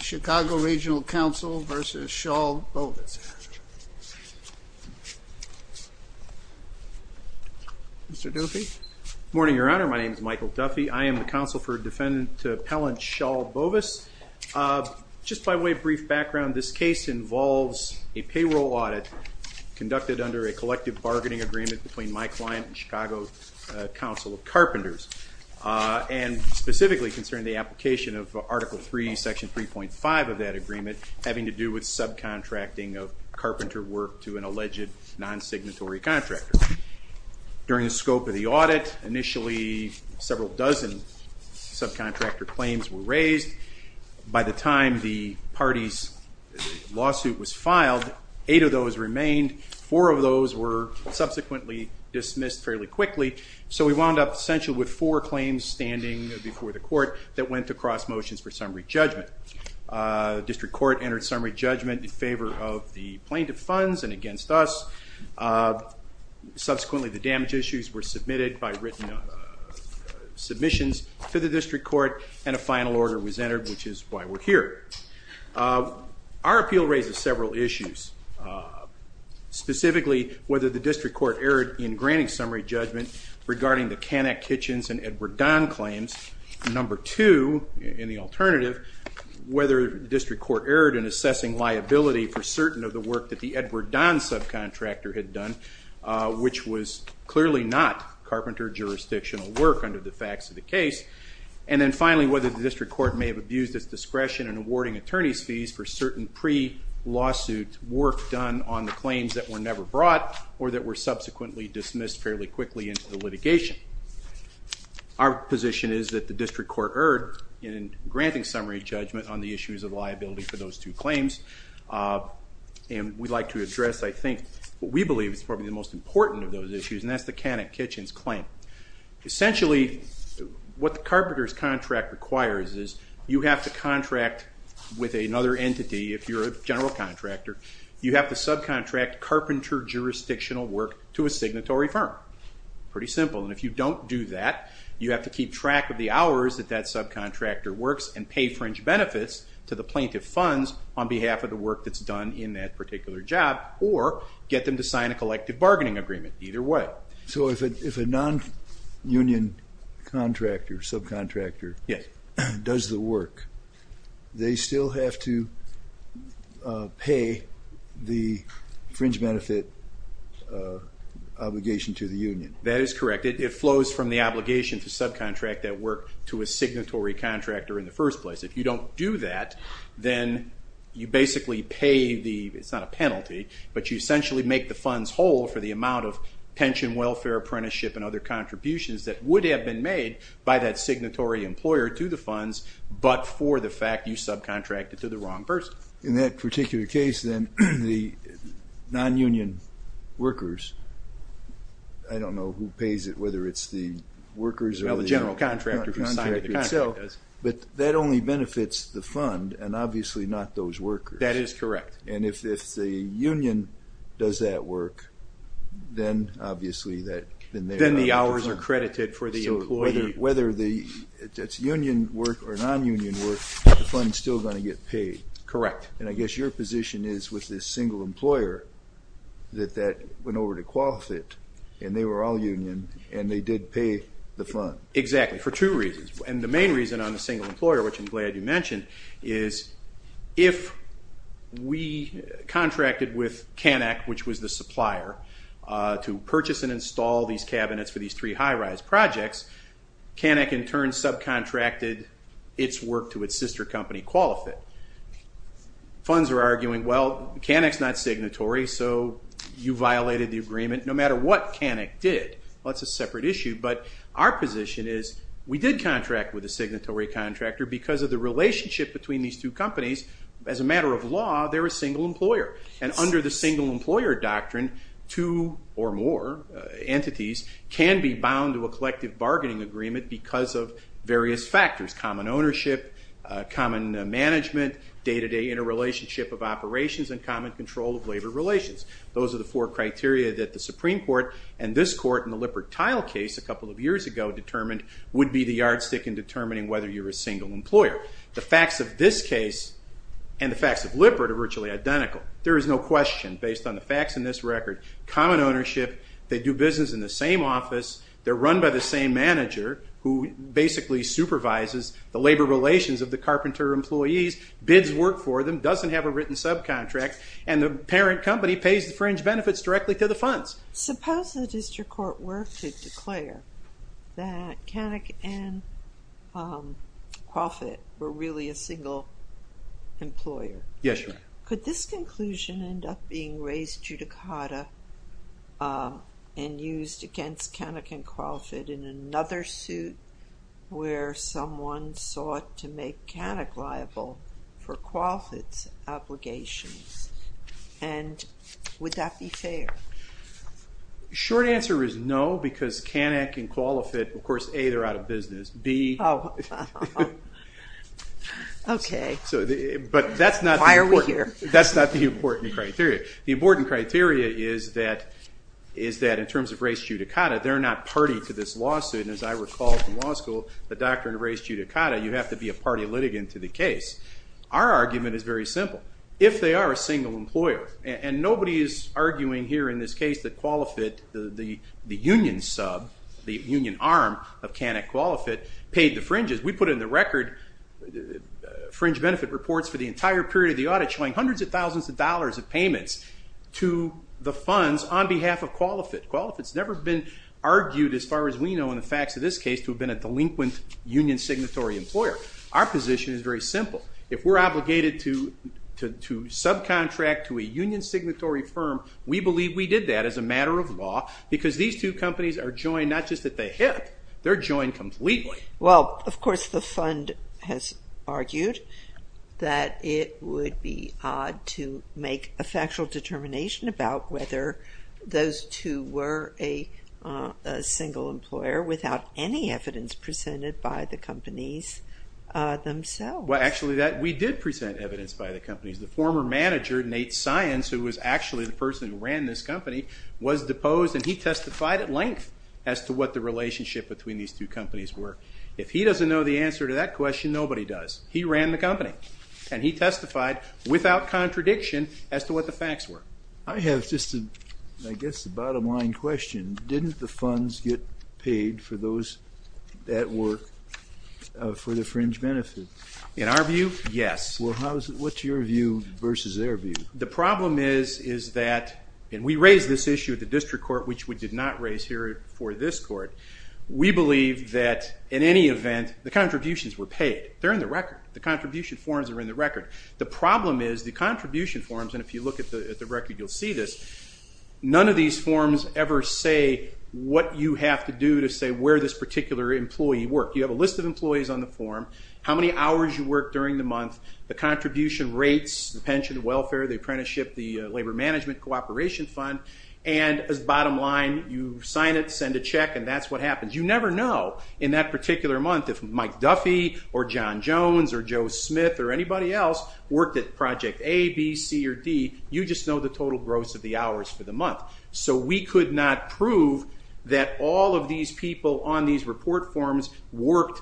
Chicago Regional Council v. Schal Bovis. Mr. Duffy? Good morning, Your Honor. My name is Michael Duffy. I am the counsel for Defendant Appellant Schal Bovis. Just by way of brief background, this case involves a payroll audit conducted under a collective bargaining agreement between my client and Chicago Council of Carpenters, and specifically concerning the application of Article III, Section 3.5 of that agreement, having to do with subcontracting of carpenter work to an alleged non-signatory contractor. During the scope of the audit, initially, several dozen subcontractor claims were raised. By the time the party's lawsuit was filed, eight of those remained. Four of those were subsequently dismissed fairly quickly. So we wound up, essentially, with four claims standing before the court that went to cross motions for summary judgment. The district court entered summary judgment in favor of the plaintiff funds and against us. Subsequently, the damage issues were submitted by written submissions to the district court, and a final order was entered, which is why we're here. Our appeal raises several issues. Specifically, whether the district court erred in granting summary judgment regarding the Canak Kitchens and Edward Don claims. Number two, in the alternative, whether the district court erred in assessing liability for certain of the work that the Edward Don subcontractor had done, which was clearly not carpenter jurisdictional work under the facts of the case. And then finally, whether the district court may have abused its discretion in awarding attorneys fees for certain pre-lawsuit work done on the claims that were never brought or that were subsequently dismissed fairly quickly into the litigation. Our position is that the district court erred in granting summary judgment on the issues of liability for those two claims. And we'd like to address, I think, what we believe is probably the most important of those issues, and that's the Canak Kitchens claim. Essentially, what the carpenter's contract requires is you have to contract with another entity, if you're a general contractor. You have to subcontract carpenter jurisdictional work to a signatory firm. Pretty simple. And if you don't do that, you have to keep track of the hours that that subcontractor works and pay fringe benefits to the plaintiff funds on behalf of the work that's done in that particular job, or get them to sign a collective bargaining agreement. Either way. So if a non-union contractor, subcontractor, does the work, they still have to pay the fringe benefit obligation to the union. That is correct. It flows from the obligation to subcontract that work to a signatory contractor in the first place. If you don't do that, then you basically pay the, it's not a penalty, but you essentially make the funds whole for the amount of pension, welfare, apprenticeship, and other contributions that would have been made by that signatory employer to the funds, but for the fact you subcontracted to the wrong person. In that particular case, then, the non-union workers, I don't know who pays it, whether it's the workers or the contract itself, but that only benefits the fund, and obviously not those workers. That is correct. And if the union does that work, then obviously that then they're out of the contract. Then the hours are credited for the employee. So whether it's union work or non-union work, the fund's still going to get paid. Correct. And I guess your position is with this single employer that that went over to QualiFit, and they were all union, and they did pay the fund. Exactly, for two reasons. And the main reason on the single employer, which I'm glad you mentioned, is if we contracted with Canak, which was the supplier, to purchase and install these cabinets for these three high-rise projects, Canak in turn subcontracted its work to its sister company, QualiFit. Funds are arguing, well, Canak's not signatory, so you violated the agreement no matter what Canak did. Well, that's a separate issue, but our position is we did contract with a signatory contractor because of the relationship between these two companies. As a matter of law, they're a single employer. And under the single employer doctrine, two or more entities can be bound to a collective bargaining agreement because of various factors. Common ownership, common management, day-to-day interrelationship of operations, and common control of labor relations. Those are the four criteria that the Supreme Court and this court in the Lippert-Tile case a couple of years ago determined would be the yardstick in determining whether you're a single employer. The facts of this case and the facts of Lippert are virtually identical. There is no question, based on the facts in this record, common ownership. They do business in the same office. They're run by the same manager who basically supervises the labor relations of the carpenter employees, bids work for them, doesn't have a written subcontract, and the parent company pays the fringe benefits directly to the funds. Suppose the district court were to declare that Kanuck and Crawford were really a single employer. Yes, Your Honor. Could this conclusion end up being raised judicata and used against Kanuck and Crawford in another suit where someone sought to make Kanuck liable for Crawford's obligations? And would that be fair? Short answer is no, because Kanuck and Crawford, of course, A, they're out of business. B, but that's not the important criteria. The important criteria is that, in terms of race judicata, they're not party to this lawsuit. And as I recall from law school, the doctrine of race judicata, you have to be a party litigant to the case. Our argument is very simple. If they are a single employer, and nobody is arguing here in this case that Qualifit, the union sub, the union arm of Kanuck Qualifit, paid the fringes. We put it in the record. Fringe benefit reports for the entire period of the audit showing hundreds of thousands of dollars of payments to the funds on behalf of Qualifit. Qualifit's never been argued, as far as we know, in the facts of this case, to have been a delinquent union signatory employer. Our position is very simple. If we're obligated to subcontract to a union signatory firm, we believe we did that as a matter of law, because these two companies are joined not just at the hip, they're joined completely. Well, of course, the fund has argued that it would be odd to make a factual determination about whether those two were a single employer, without any evidence presented by the companies themselves. Well, actually, we did present evidence by the companies. The former manager, Nate Science, who was actually the person who ran this company, was deposed, and he testified at length as to what the relationship between these two companies were. If he doesn't know the answer to that question, nobody does. He ran the company, and he testified without contradiction as to what the facts were. I have just, I guess, a bottom line question. Didn't the funds get paid for those that were for the fringe benefit? In our view, yes. Well, what's your view versus their view? The problem is that, and we raised this issue at the district court, which we did not raise here for this court, we believe that in any event, the contributions were paid. They're in the record. The contribution forms are in the record. The problem is the contribution forms, and if you look at the record, you'll see this, none of these forms ever say what you have to do to say where this particular employee worked. You have a list of employees on the form, how many hours you worked during the month, the contribution rates, the pension, the welfare, the apprenticeship, the labor management cooperation fund, and as bottom line, you sign it, send a check, and that's what happens. You never know in that particular month if Mike Duffy or John Jones or Joe Smith or anybody else worked at project A, B, C, or D. You just know the total gross of the hours for the month. So we could not prove that all of these people on these report forms worked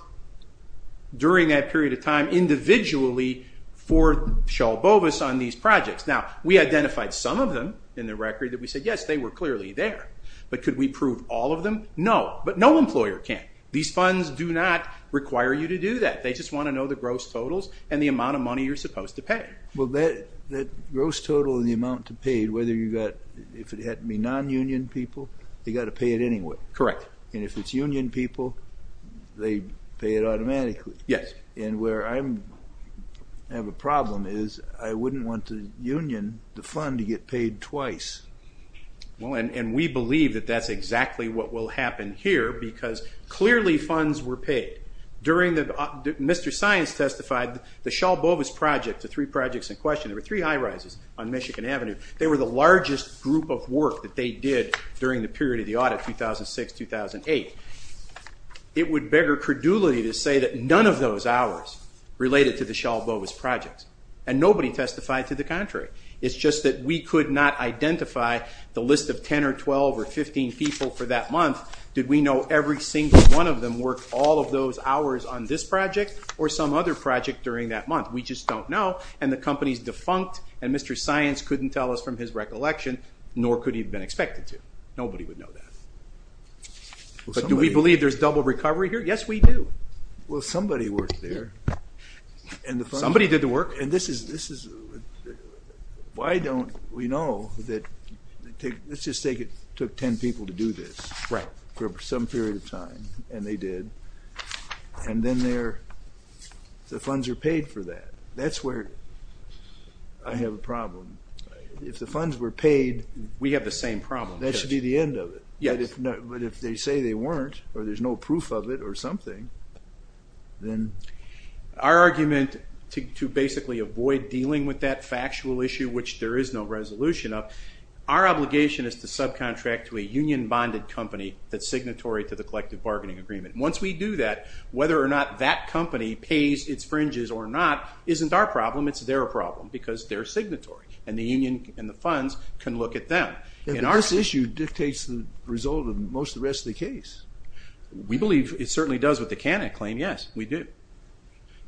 during that period of time individually for Shulbovis on these projects. Now, we identified some of them in the record that we said, yes, they were clearly there. But could we prove all of them? No, but no employer can. These funds do not require you to do that. and the amount of money you're supposed to pay. Well, that gross total in the amount to paid, whether you got, if it had to be non-union people, they got to pay it anyway. Correct. And if it's union people, they pay it automatically. Yes. And where I have a problem is I wouldn't want to union the fund to get paid twice. Well, and we believe that that's exactly what will happen here, because clearly funds were paid. During the, Mr. Science testified, the Shulbovis project, the three projects in question, there were three high rises on Michigan Avenue. They were the largest group of work that they did during the period of the audit, 2006, 2008. It would beggar credulity to say that none of those hours related to the Shulbovis projects. And nobody testified to the contrary. It's just that we could not identify the list of 10 or 12 or 15 people for that month. Did we know every single one of them worked all of those hours on this project or some other project during that month? We just don't know. And the company's defunct. And Mr. Science couldn't tell us from his recollection, nor could he have been expected to. Nobody would know that. But do we believe there's double recovery here? Yes, we do. Well, somebody worked there. Somebody did the work. And this is, why don't we know that, let's just take it took 10 people to do this for some period of time. And they did. And then the funds are paid for that. That's where I have a problem. If the funds were paid, that should be the end of it. But if they say they weren't, or there's no proof of it or something, then? Our argument to basically avoid dealing with that factual issue, which there is no resolution of, our obligation is to subcontract to a union-bonded company that's signatory to the collective bargaining agreement. Once we do that, whether or not that company pays its fringes or not isn't our problem. It's their problem. Because they're signatory. And the union and the funds can look at them. And our issue dictates the result of most of the rest of the case. We believe it certainly does with the Canik claim. Yes, we do.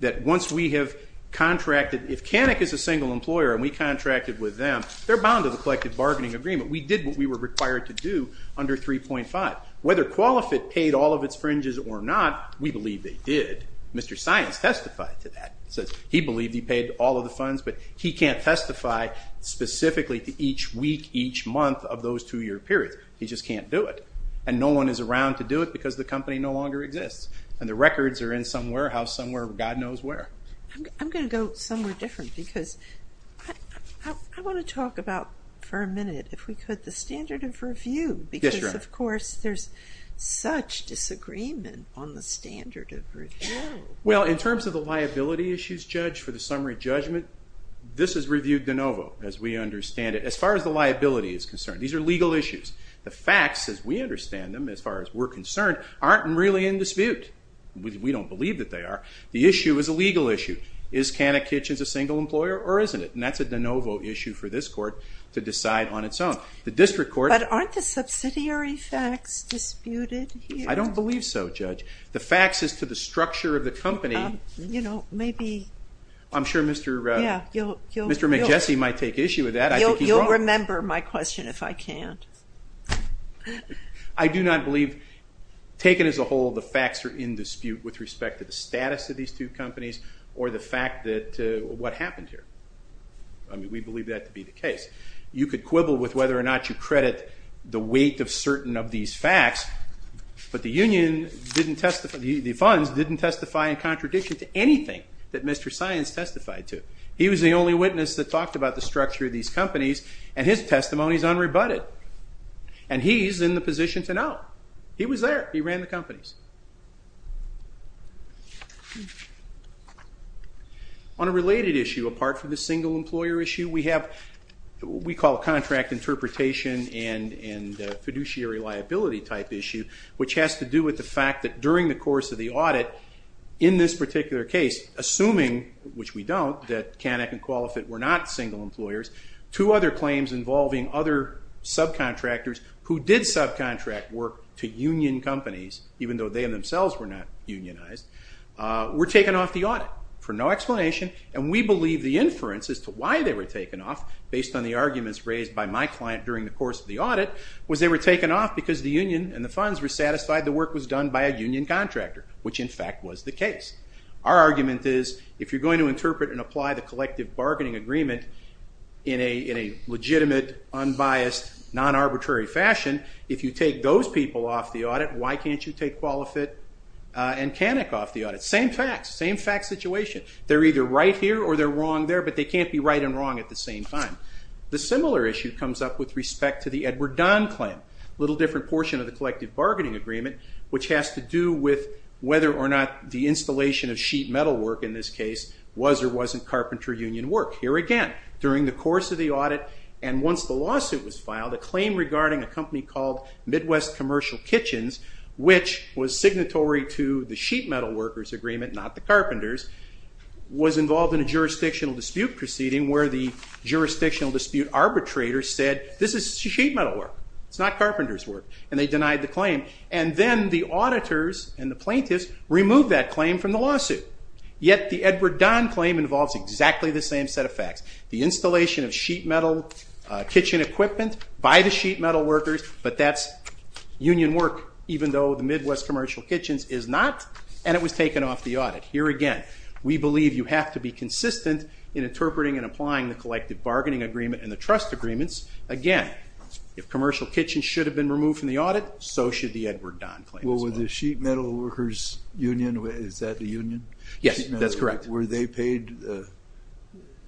That once we have contracted, if Canik is a single employer and we contracted with them, they're bound to the collective bargaining agreement. We did what we were required to do under 3.5. Whether QualiFit paid all of its fringes or not, we believe they did. Mr. Science testified to that. Says he believed he paid all of the funds, but he can't testify specifically to each week, each month of those two-year periods. He just can't do it. And no one is around to do it because the company no longer exists. And the records are in somewhere, house somewhere, God knows where. I'm going to go somewhere different, because I want to talk about, for a minute, if we could, the standard of review. Yes, Your Honor. Of course, there's such disagreement on the standard of review. Well, in terms of the liability issues, Judge, for the summary judgment, this is reviewed de novo, as we understand it, as far as the liability is concerned. These are legal issues. The facts, as we understand them, as far as we're concerned, aren't really in dispute. We don't believe that they are. The issue is a legal issue. Is Canik Kitchens a single employer, or isn't it? And that's a de novo issue for this court to decide on its own. The district court. But aren't the subsidiary facts disputed here? I don't believe so, Judge. The facts as to the structure of the company. You know, maybe. I'm sure Mr. McJesse might take issue with that. I think he's wrong. You'll remember my question if I can't. I do not believe, taken as a whole, the facts are in dispute with respect to the status of these two companies, or the fact that what happened here. I mean, we believe that to be the case. You could quibble with whether or not you credit the weight of certain of these facts, but the funds didn't testify in contradiction to anything that Mr. Science testified to. He was the only witness that talked about the structure of these companies, and his testimony is unrebutted. And he's in the position to know. He was there. He ran the companies. On a related issue, apart from the single employer issue, we have what we call a contract interpretation and fiduciary liability type issue, which has to do with the fact that during the course of the audit, in this particular case, assuming, which we don't, that Kanek and Qualifit were not single employers, two other claims involving other subcontractors who did subcontract work to union companies, even though they themselves were not unionized, were taken off the audit for no explanation. And we believe the inference as to why they were taken off, based on the arguments raised by my client during the course of the audit, was they were taken off because the union and the funds were satisfied the work was done by a union contractor, which in fact was the case. Our argument is, if you're going to interpret and apply the collective bargaining agreement in a legitimate, unbiased, non-arbitrary fashion, if you take those people off the audit, why can't you take Qualifit and Kanek off the audit? Same facts, same fact situation. They're either right here or they're wrong there, but they can't be right and wrong at the same time. The similar issue comes up with respect to the Edward Don claim, a little different portion of the collective bargaining agreement, which has to do with whether or not the installation of sheet metal work, in this case, was or wasn't carpenter union work. Here again, during the course of the audit, and once the lawsuit was filed, a claim regarding a company called Midwest Commercial Kitchens, which was signatory to the sheet metal workers' agreement, not the carpenters', was involved in a jurisdictional dispute proceeding where the jurisdictional dispute arbitrator said, this is sheet metal work. It's not carpenters' work. And they denied the claim. And then the auditors and the plaintiffs removed that claim from the lawsuit. Yet the Edward Don claim involves exactly the same set of facts. The installation of sheet metal kitchen equipment by the sheet metal workers, but that's union work, even though the Midwest Commercial Kitchens is not, and it was taken off the audit. Here again, we believe you have to be consistent in interpreting and applying the collective bargaining agreement and the trust agreements. Again, if Commercial Kitchens should have been removed from the audit, so should the Edward Don claim as well. Well, with the sheet metal workers' union, is that the union? Yes, that's correct. Were they paid?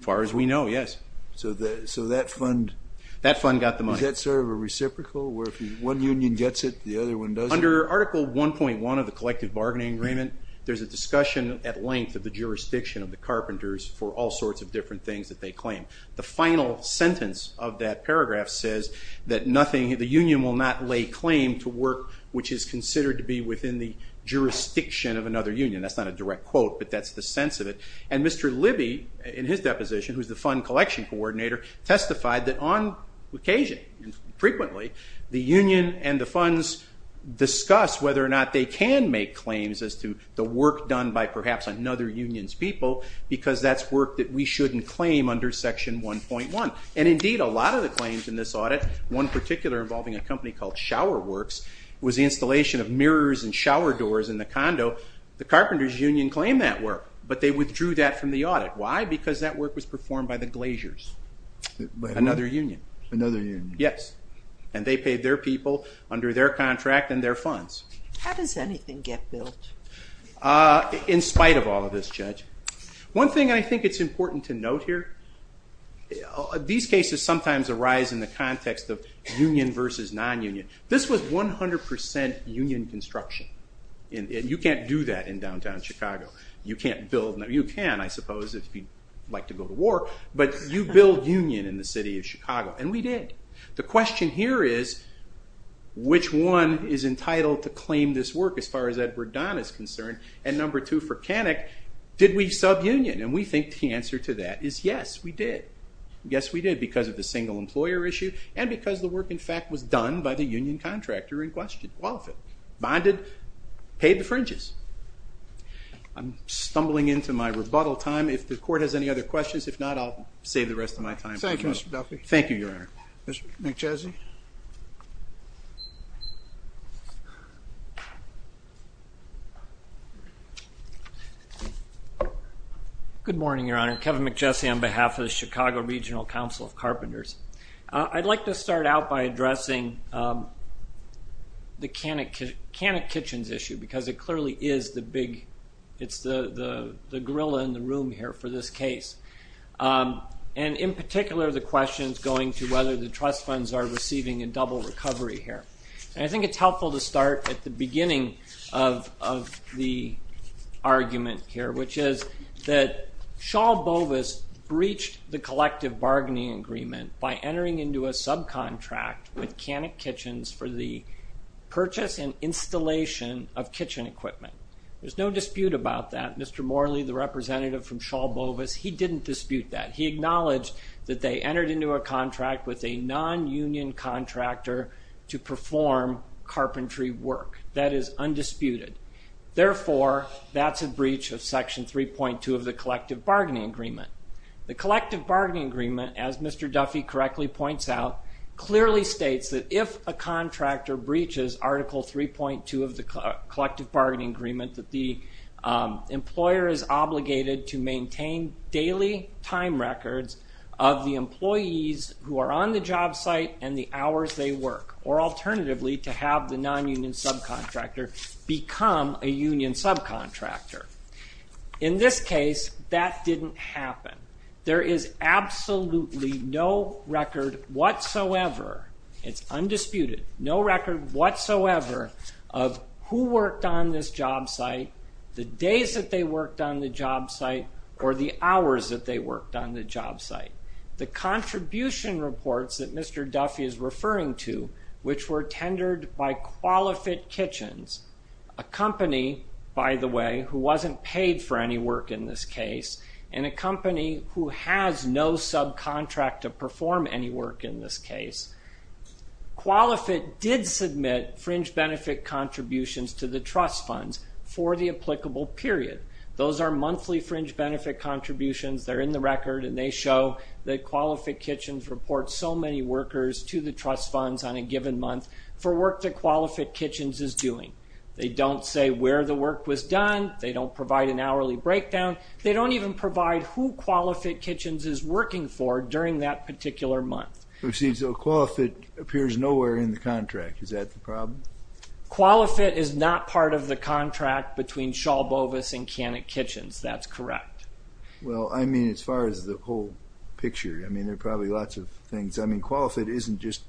Far as we know, yes. So that fund? That fund got the money. Is that sort of a reciprocal, where if one union gets it, the other one doesn't? Under Article 1.1 of the collective bargaining agreement, there's a discussion at length of the jurisdiction of the carpenters for all sorts of different things that they claim. The final sentence of that paragraph says that the union will not lay claim to work which is considered to be within the jurisdiction of another union. That's not a direct quote, but that's the sense of it. And Mr. Libby, in his deposition, who's the fund collection coordinator, testified that on occasion, frequently, the union and the funds discuss whether or not they can make claims as to the work done by perhaps another union's people, because that's work that we shouldn't claim under Section 1.1. And indeed, a lot of the claims in this audit, one particular involving a company called Shower Works, was the installation of mirrors and shower doors in the condo. The carpenters' union claimed that work, but they withdrew that from the audit. Why? Because that work was performed by the Glaciers, another union. Another union. Yes. And they paid their people under their contract and their funds. How does anything get built? In spite of all of this, Judge. One thing I think it's important to note here, these cases sometimes arise in the context of union versus non-union. This was 100% union construction. And you can't do that in downtown Chicago. You can't build. You can, I suppose, if you'd like to go to war. But you build union in the city of Chicago. And we did. The question here is, which one is entitled to claim this work as far as Edward Don is concerned? And number two for Canik, did we sub-union? And we think the answer to that is, yes, we did. Yes, we did, because of the single employer issue and because the work, in fact, was done by the union contractor in question, qualified, bonded, paid the fringes. I'm stumbling into my rebuttal time. If the court has any other questions, if not, I'll save the rest of my time. Thank you, Mr. Duffy. Thank you, Your Honor. Mr. McJesse? Good morning, Your Honor. Kevin McJesse on behalf of the Chicago Regional Council of Carpenters. I'd like to start out by addressing the Canik Kitchens issue, because it clearly is the big, it's the gorilla in the room here for this case. And in particular, the question is going to whether the trust funds are receiving a double recovery here. I think it's helpful to start at the beginning of the argument here, which is that Shaw Bovis breached the collective bargaining agreement by entering into a subcontract with Canik Kitchens for the purchase and installation of kitchen equipment. There's no dispute about that. Mr. Morley, the representative from Shaw Bovis, he didn't dispute that. He acknowledged that they entered into a contract with a non-union contractor to perform carpentry work. That is undisputed. Therefore, that's a breach of section 3.2 of the collective bargaining agreement. The collective bargaining agreement, as Mr. Duffy correctly points out, clearly states that if a contractor breaches article 3.2 of the collective bargaining agreement, that the employer is obligated to maintain daily time records of the employees who are on the job site and the hours they work, or alternatively, to have the non-union subcontractor become a union subcontractor. In this case, that didn't happen. There is absolutely no record whatsoever. It's undisputed. No record whatsoever of who worked on this job site, the days that they worked on the job site, or the hours that they worked on the job site. The contribution reports that Mr. Duffy is referring to, which were tendered by QualiFit Kitchens, a company, by the way, who wasn't paid for any work in this case, and a company who has no subcontract to perform any work in this case. QualiFit did submit fringe benefit contributions to the trust funds for the applicable period. Those are monthly fringe benefit contributions. They're in the record, and they show that QualiFit Kitchens reports so many workers to the trust funds on a given month for work that QualiFit Kitchens is doing. They don't say where the work was done. They don't provide an hourly breakdown. They don't even provide who QualiFit Kitchens is working for during that particular month. So, see, so QualiFit appears nowhere in the contract. Is that the problem? QualiFit is not part of the contract between Shaw Bovis and Cannock Kitchens. That's correct. Well, I mean, as far as the whole picture, I mean, there are probably lots of things. I mean, QualiFit isn't just,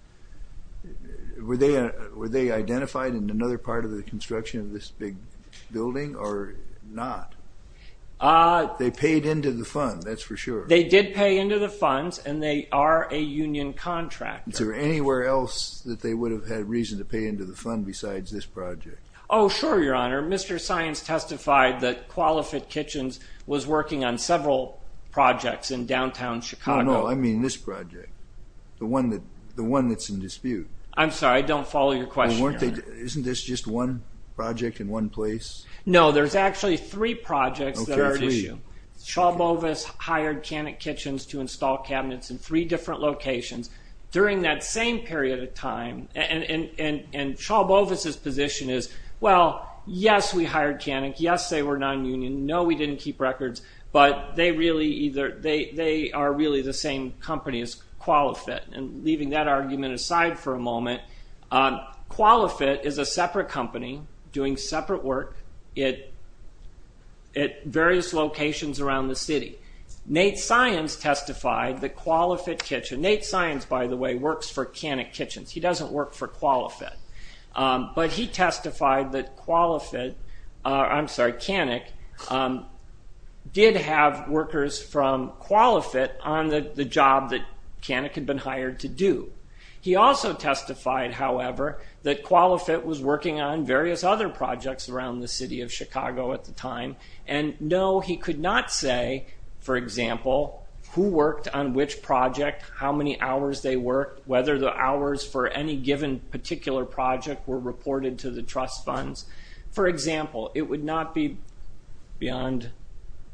were they identified in another part of the construction of this big building, or not? They paid into the fund, that's for sure. They did pay into the funds, and they are a union contractor. Is there anywhere else that they would have had reason to pay into the fund besides this project? Oh, sure, Your Honor. Mr. Saenz testified that QualiFit Kitchens was working on several projects in downtown Chicago. No, no, I mean this project, the one that's in dispute. I'm sorry, I don't follow your question, Your Honor. Isn't this just one project in one place? No, there's actually three projects that are at issue. Shaw Bovis hired Cannock Kitchens to install cabinets in three different locations during that same period of time, and Shaw Bovis's position is, well, yes, we hired Cannock. Yes, they were non-union. No, we didn't keep records, but they are really the same company as QualiFit, and leaving that argument aside for a moment, QualiFit is a separate company doing separate work at various locations around the city. Nate Saenz testified that QualiFit Kitchen, Nate Saenz, by the way, works for Cannock Kitchens. He doesn't work for QualiFit, but he testified that QualiFit, I'm sorry, Cannock did have workers from QualiFit on the job that Cannock had been hired to do. He also testified, however, that QualiFit was working on various other projects around the city of Chicago at the time, and no, he could not say, for example, who worked on which project, how many hours they worked, whether the hours for any given particular project were reported to the trust funds. For example, it would not be beyond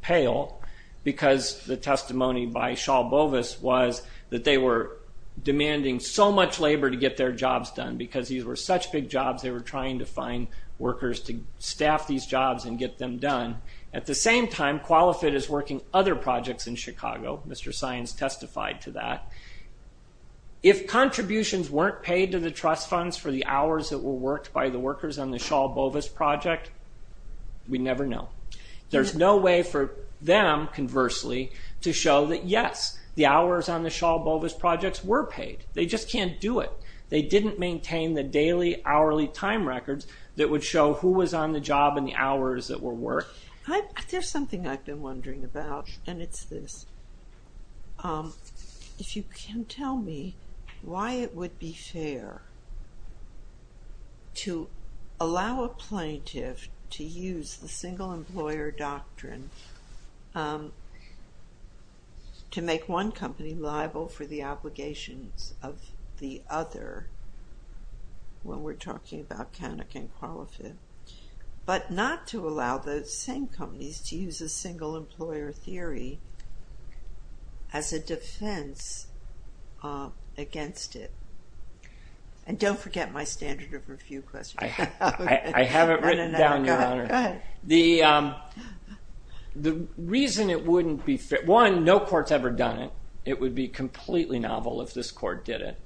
pale because the testimony by Shaw Bovis was that they were demanding so much labor to get their jobs done because these were such big jobs, they were trying to find workers to staff these jobs and get them done. At the same time, QualiFit is working other projects in Chicago. Mr. Saenz testified to that. If contributions weren't paid to the trust funds for the hours that were worked by the workers on the Shaw Bovis project, we never know. There's no way for them, conversely, to show that yes, the hours on the Shaw Bovis projects were paid. They just can't do it. They didn't maintain the daily hourly time records that would show who was on the job and the hours that were worked. There's something I've been wondering about, and it's this. If you can tell me why it would be fair to allow a plaintiff to use the single employer doctrine to make one company liable for the obligations of the other when we're talking about Canuck and QualiFit, but not to allow those same companies to use a single employer theory as a defense against it? And don't forget my standard of review question. I haven't written it down, Your Honor. The reason it wouldn't be fair, one, no court's ever done it. It would be completely novel if this court did it.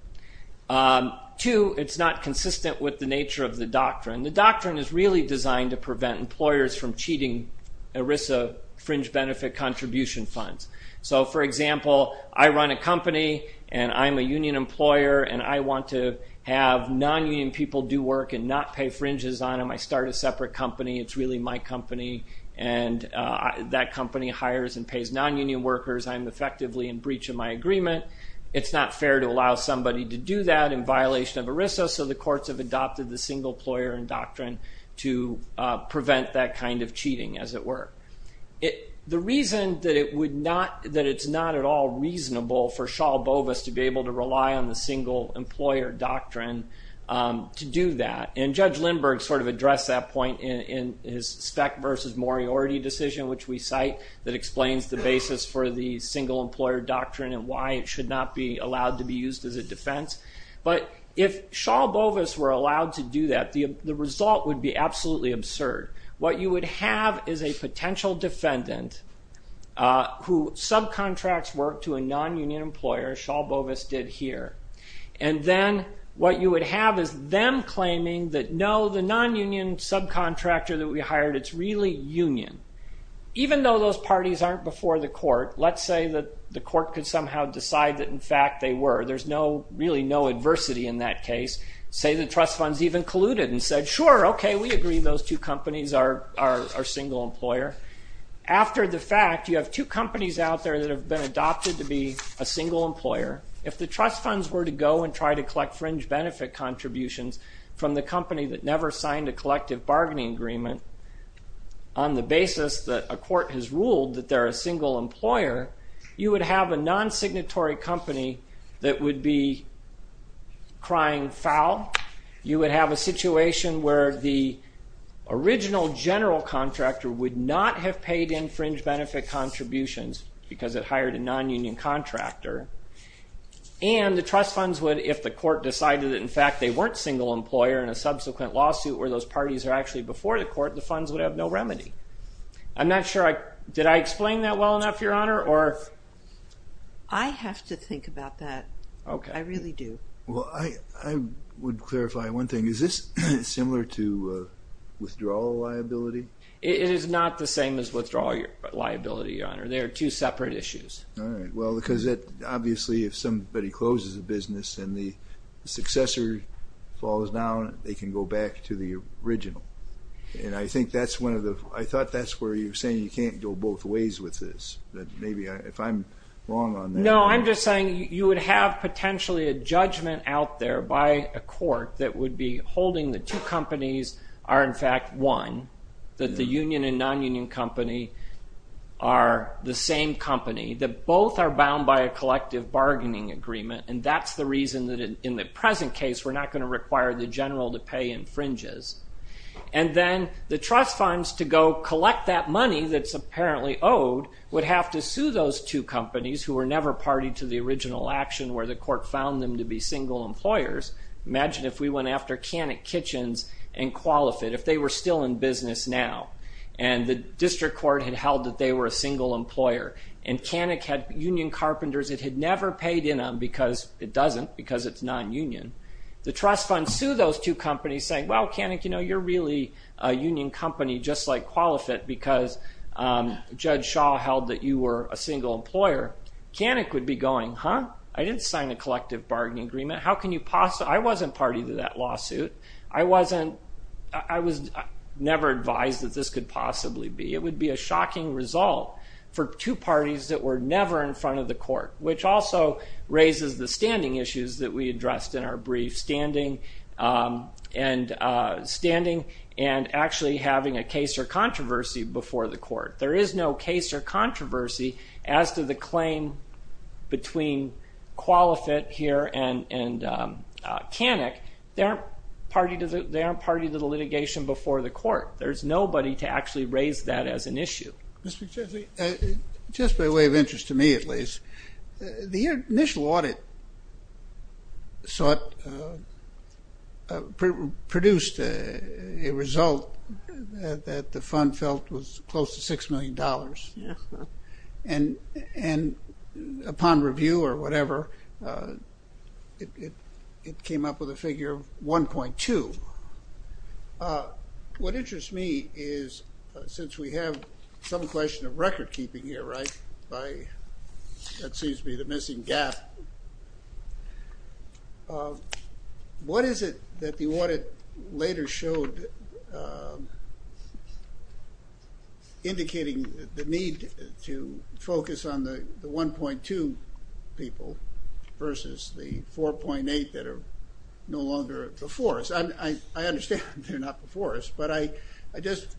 Two, it's not consistent with the nature of the doctrine. The doctrine is really designed to prevent employers from cheating ERISA fringe benefit contribution funds. So, for example, I run a company, and I'm a union employer, and I want to have non-union people do work and not pay fringes on them. I start a separate company. It's really my company, and that company hires and pays non-union workers. I'm effectively in breach of my agreement. It's not fair to allow somebody to do that in violation of ERISA, so the courts have adopted the single employer doctrine to prevent that kind of cheating, as it were. The reason that it's not at all reasonable for Shaul Bovis to be able to rely on the single employer doctrine to do that, and Judge Lindbergh sort of addressed that point in his Speck versus Moriarty decision, which we cite, that explains the basis for the single employer doctrine and why it should not be allowed to be used as a defense, but if Shaul Bovis were allowed to do that, the result would be absolutely absurd. What you would have is a potential defendant who subcontracts work to a non-union employer, Shaul Bovis did here, and then what you would have is them claiming that, no, the non-union subcontractor that we hired, it's really union. Even though those parties aren't before the court, let's say that the court could somehow decide that, in fact, they were. There's really no adversity in that case. Say the trust funds even colluded and said, sure, okay, we agree those two companies are single employer. After the fact, you have two companies out there that have been adopted to be a single employer. If the trust funds were to go and try to collect fringe benefit contributions from the company that never signed a collective bargaining agreement on the basis that a court has ruled that they're a single employer, you would have a non-signatory company that would be crying foul. You would have a situation where the original general contractor would not have paid in fringe benefit contributions because it hired a non-union contractor, and the trust funds would, if the court decided that, in fact, they weren't single employer in a subsequent lawsuit where those parties are actually before the court, the funds would have no remedy. I'm not sure I, did I explain that well enough, Your Honor, or? I have to think about that. Okay. I really do. Well, I would clarify one thing. Is this similar to withdrawal liability? It is not the same as withdrawal liability, Your Honor. They are two separate issues. All right, well, because obviously, if somebody closes a business and the successor falls down, they can go back to the original. And I think that's one of the, I thought that's where you're saying you can't go both ways with this, that maybe if I'm wrong on that. No, I'm just saying you would have potentially a judgment out there by a court that would be holding the two companies are, in fact, one, that the union and non-union company are the same company, that both are bound by a collective bargaining agreement, and that's the reason that in the present case, we're not gonna require the general to pay in fringes. And then the trust funds to go collect that money that's apparently owed would have to sue those two companies who were never party to the original action where the court found them to be single employers. Imagine if we went after Canik Kitchens and QualiFit, if they were still in business now, and the district court had held that they were a single employer, and Canik had union carpenters it had never paid in on because it doesn't, because it's non-union. The trust funds sue those two companies saying, well, Canik, you know, you're really a union company just like QualiFit because Judge Shaw held that you were a single employer. Canik would be going, huh, I didn't sign a collective bargaining agreement. How can you possibly, I wasn't party to that lawsuit. I wasn't, I was never advised that this could possibly be. It would be a shocking result for two parties that were never in front of the court, which also raises the standing issues that we addressed in our brief, standing and actually having a case or controversy before the court. There is no case or controversy as to the claim between QualiFit here and Canik. They aren't party to the litigation before the court. There's nobody to actually raise that as an issue. Mr. Chesley, just by way of interest to me at least, the initial audit sought, produced a result that the fund felt was close to $6 million. And upon review or whatever, it came up with a figure of 1.2. What interests me is since we have some question of record keeping here, right? By, that seems to be the missing gap. What is it that the audit later showed indicating the need to focus on the 1.2 people versus the 4.8 that are no longer before us? I understand they're not before us, but I just,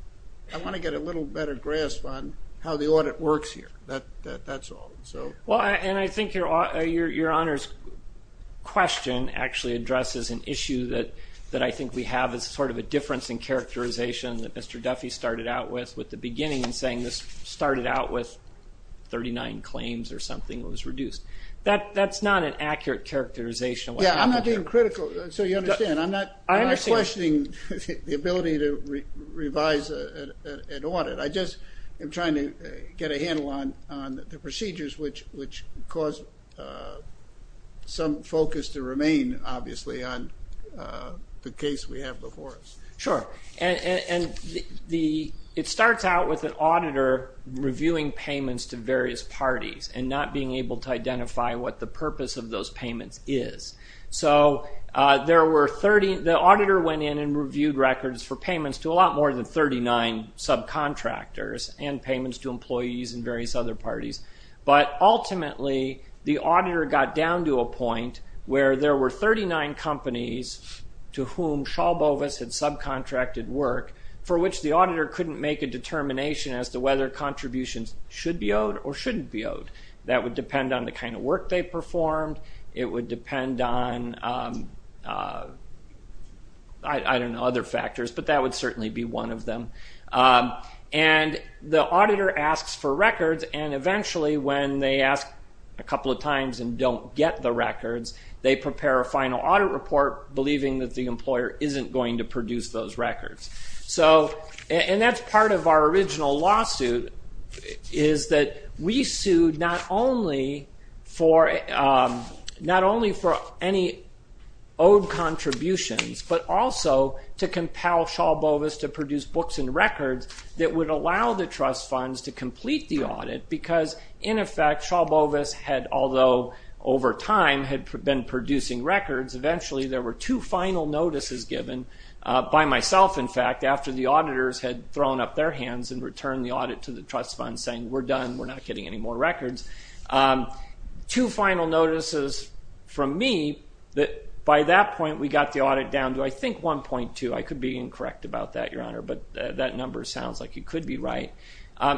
I wanna get a little better grasp on how the audit works here. That's all, so. Well, and I think your honor's question actually addresses an issue that I think we have as sort of a difference in characterization that Mr. Duffy started out with, with the beginning and saying this started out with 39 claims or something that was reduced. That's not an accurate characterization. Yeah, I'm not being critical. So you understand, I'm not questioning the ability to revise an audit. I just am trying to get a handle on the procedures which cause some focus to remain, obviously, on the case we have before us. Sure, and it starts out with an auditor reviewing payments to various parties and not being able to identify what the purpose of those payments is. So there were 30, the auditor went in and reviewed records for payments to a lot more than 39 subcontractors and payments to employees and various other parties. But ultimately, the auditor got down to a point where there were 39 companies to whom Shaw Bovis had subcontracted work for which the auditor couldn't make a determination as to whether contributions should be owed or shouldn't be owed. That would depend on the kind of work they performed. It would depend on, I don't know, other factors, but that would certainly be one of them. And the auditor asks for records and eventually when they ask a couple of times and don't get the records, they prepare a final audit report believing that the employer isn't going to produce those records. So, and that's part of our original lawsuit is that we sued not only for any owed contributions but also to compel Shaw Bovis to produce books and records that would allow the trust funds to complete the audit because in effect, Shaw Bovis had, although over time had been producing records, eventually there were two final notices given by myself, in fact, after the auditors had thrown up their hands and returned the audit to the trust fund saying, we're done, we're not getting any more records. Two final notices from me that by that point, we got the audit down to, I think, 1.2. I could be incorrect about that, Your Honor, but that number sounds like it could be right.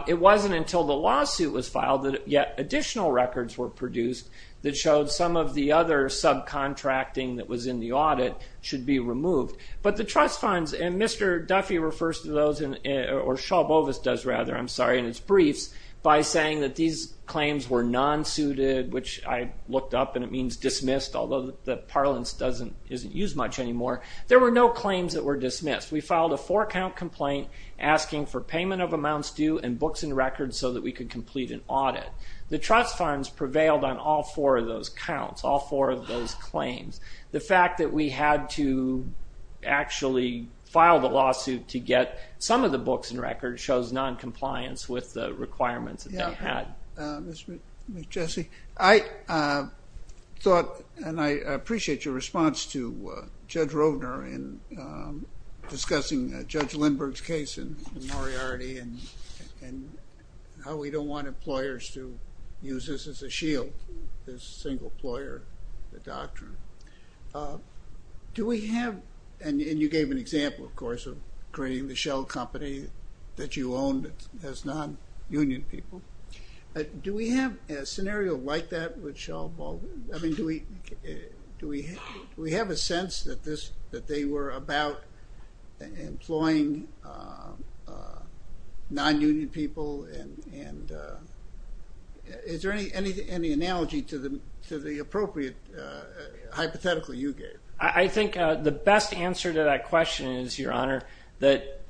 It wasn't until the lawsuit was filed that yet additional records were produced that showed some of the other subcontracting that was in the audit should be removed. But the trust funds and Mr. Duffy refers to those or Shaw Bovis does rather, I'm sorry, in his briefs by saying that these claims were non-suited, which I looked up and it means dismissed, although the parlance isn't used much anymore. There were no claims that were dismissed. We filed a four count complaint asking for payment of amounts due and books and records so that we could complete an audit. The trust funds prevailed on all four of those counts, all four of those claims. The fact that we had to actually file the lawsuit to get some of the books and records shows non-compliance with the requirements that they had. Mr. McJessie, I thought, and I appreciate your response to Judge Rovner in discussing Judge Lindbergh's case in Moriarty and how we don't want employers to use this as a shield, this single ploy or the doctrine. Do we have, and you gave an example, of course, of creating the shell company that you owned as non-union people. Do we have a scenario like that with Shell Ball? I mean, do we have a sense that they were about employing non-union people? And is there any analogy to the appropriate hypothetical you gave? I think the best answer to that question is, Your Honor, that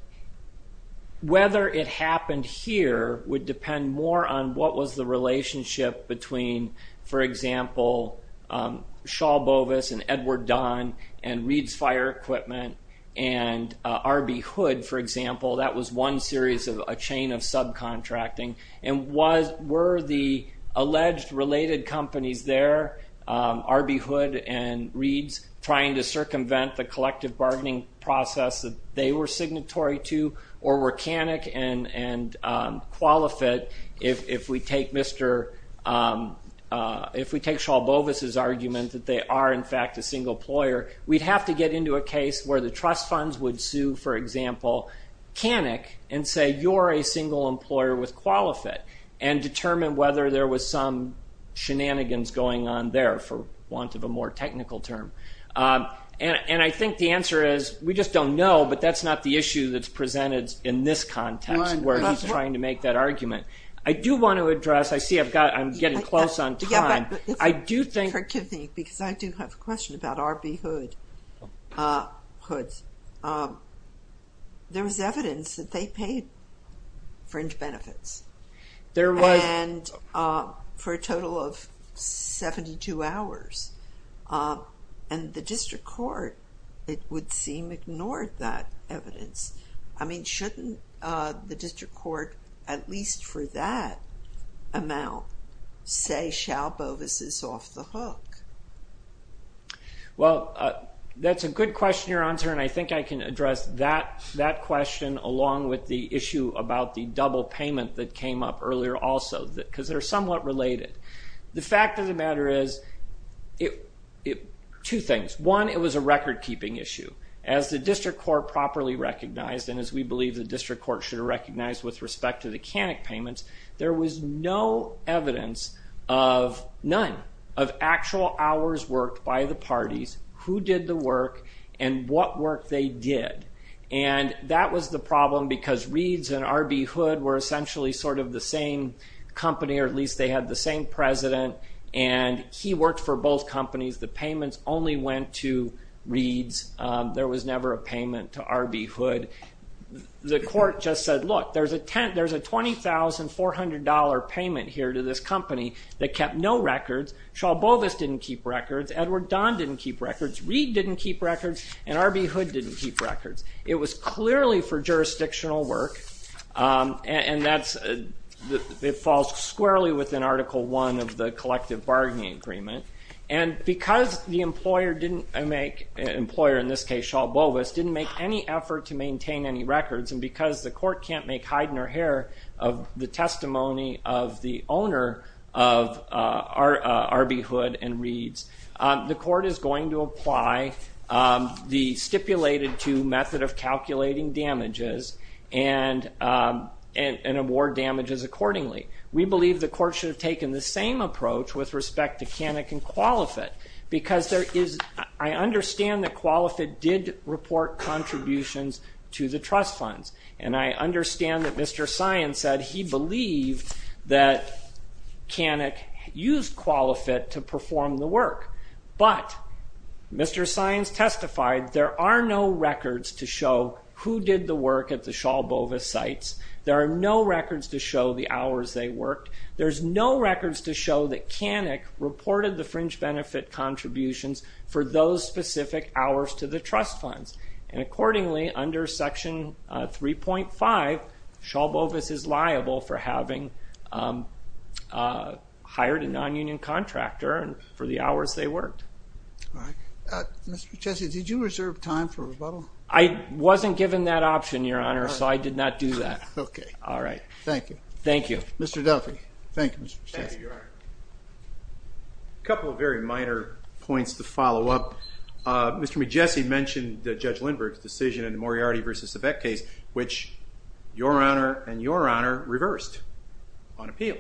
whether it happened here would depend more on what was the relationship between, for example, Shaw Bovis and Edward Dunn and Reed's Fire Equipment and R.B. Hood, for example. That was one series of a chain of subcontracting. And were the alleged related companies there, R.B. Hood and Reed's, trying to circumvent the collective bargaining process that they were signatory to, or were Canik and Qualifit, if we take Shaw Bovis's argument that they are, in fact, a single employer, we'd have to get into a case where the trust funds would sue, for example, Canik, and say, you're a single employer with Qualifit, and determine whether there was some shenanigans going on there, for want of a more technical term. And I think the answer is, we just don't know, but that's not the issue that's presented in this context, where he's trying to make that argument. I do want to address, I see I'm getting close on time, I do think- Forgive me, because I do have a question about R.B. Hood. There was evidence that they paid fringe benefits. There was- And for a total of 72 hours. And the district court, it would seem, ignored that evidence. I mean, shouldn't the district court, at least for that amount, say Shaw Bovis is off the hook? Well, that's a good question, your answer, and I think I can address that question, along with the issue about the double payment that came up earlier also, because they're somewhat related. The fact of the matter is, two things. One, it was a record-keeping issue. As the district court properly recognized, and as we believe the district court should recognize with respect to the Canik payments, there was no evidence of, none, of actual hours worked by the parties, who did the work, and what work they did. And that was the problem, because Reeds and R.B. Hood were essentially sort of the same company, or at least they had the same president, and he worked for both companies. The payments only went to Reeds. There was never a payment to R.B. Hood. The court just said, look, there's a $20,400 payment here to this company that kept no records. Shaw Bovis didn't keep records. Edward Dahn didn't keep records. Reed didn't keep records, and R.B. Hood didn't keep records. It was clearly for jurisdictional work, and that's, it falls squarely within Article I of the collective bargaining agreement. And because the employer didn't make, employer, in this case, Shaw Bovis, didn't make any effort to maintain any records, and because the court can't make hide-in-her-hair of the testimony of the owner of R.B. Hood and Reeds, the court is going to apply the stipulated-to method of calculating damages and award damages accordingly. We believe the court should have taken the same approach with respect to Canik and Qualifit, because there is, I understand that Qualifit did report contributions to the trust funds, and I understand that Mr. Sines said he believed that Canik used Qualifit to perform the work, but Mr. Sines testified there are no records to show who did the work at the Shaw Bovis sites. There are no records to show the hours they worked. There's no records to show that Canik reported the fringe benefit contributions for those specific hours to the trust funds, and accordingly, under Section 3.5, Shaw Bovis is liable for having hired a non-union contractor and for the hours they worked. Mr. Pichessi, did you reserve time for rebuttal? I wasn't given that option, Your Honor, so I did not do that. Okay, all right. Thank you. Thank you. Mr. Duffy, thank you, Mr. Pichessi. Thank you, Your Honor. Couple of very minor points to follow up. Mr. McJesse mentioned Judge Lindbergh's decision in the Moriarty v. Yvette case, which Your Honor and Your Honor reversed on appeal,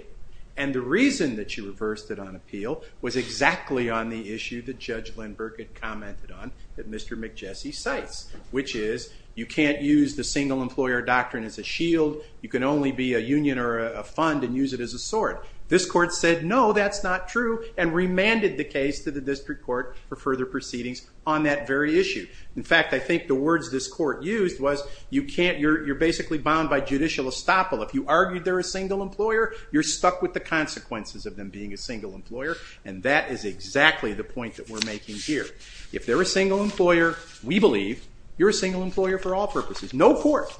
and the reason that you reversed it on appeal was exactly on the issue that Judge Lindbergh had commented on that Mr. McJesse cites, which is you can't use the single employer doctrine as a shield. You can only be a union or a fund and use it as a sword. This court said no, that's not true, and remanded the case to the district court for further proceedings on that very issue. In fact, I think the words this court used was you're basically bound by judicial estoppel. If you argued they're a single employer, you're stuck with the consequences of them being a single employer, and that is exactly the point that we're making here. If they're a single employer, we believe you're a single employer for all purposes. No court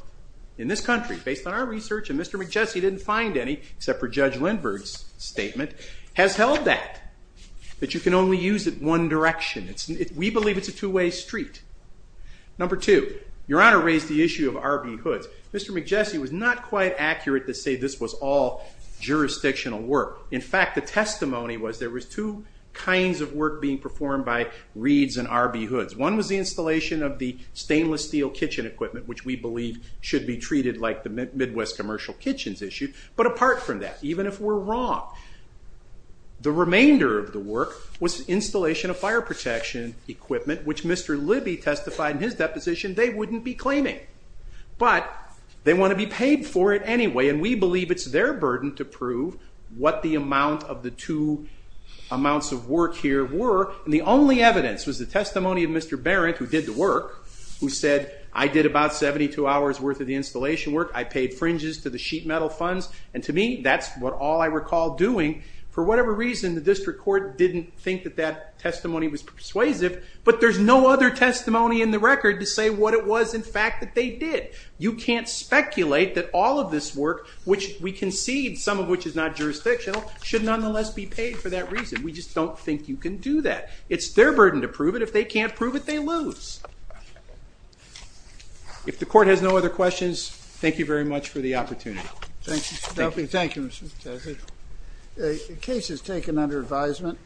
in this country, based on our research and Mr. McJesse didn't find any, except for Judge Lindbergh's statement, has held that, that you can only use it one direction. We believe it's a two-way street. Number two, Your Honor raised the issue of R.B. Hoods. Mr. McJesse was not quite accurate to say this was all jurisdictional work. In fact, the testimony was there was two kinds of work being performed by Reeds and R.B. Hoods. One was the installation of the stainless steel kitchen equipment, which we believe should be treated like the Midwest commercial kitchens issue. But apart from that, even if we're wrong, the remainder of the work was installation of fire protection equipment, which Mr. Libby testified in his deposition they wouldn't be claiming. But they want to be paid for it anyway, and we believe it's their burden to prove what the amount of the two amounts of work here were. And the only evidence was the testimony of Mr. Barrett, who did the work, who said, I did about 72 hours worth of the installation work. I paid fringes to the sheet metal funds. And to me, that's all I recall doing. For whatever reason, the district court didn't think that that testimony was persuasive. But there's no other testimony in the record to say what it was, in fact, that they did. You can't speculate that all of this work, which we concede, some of which is not jurisdictional, should nonetheless be paid for that reason. We just don't think you can do that. It's their burden to prove it. If they can't prove it, they lose. If the court has no other questions, thank you very much for the opportunity. Thank you, Mr. Chesley. The case is taken under advisement.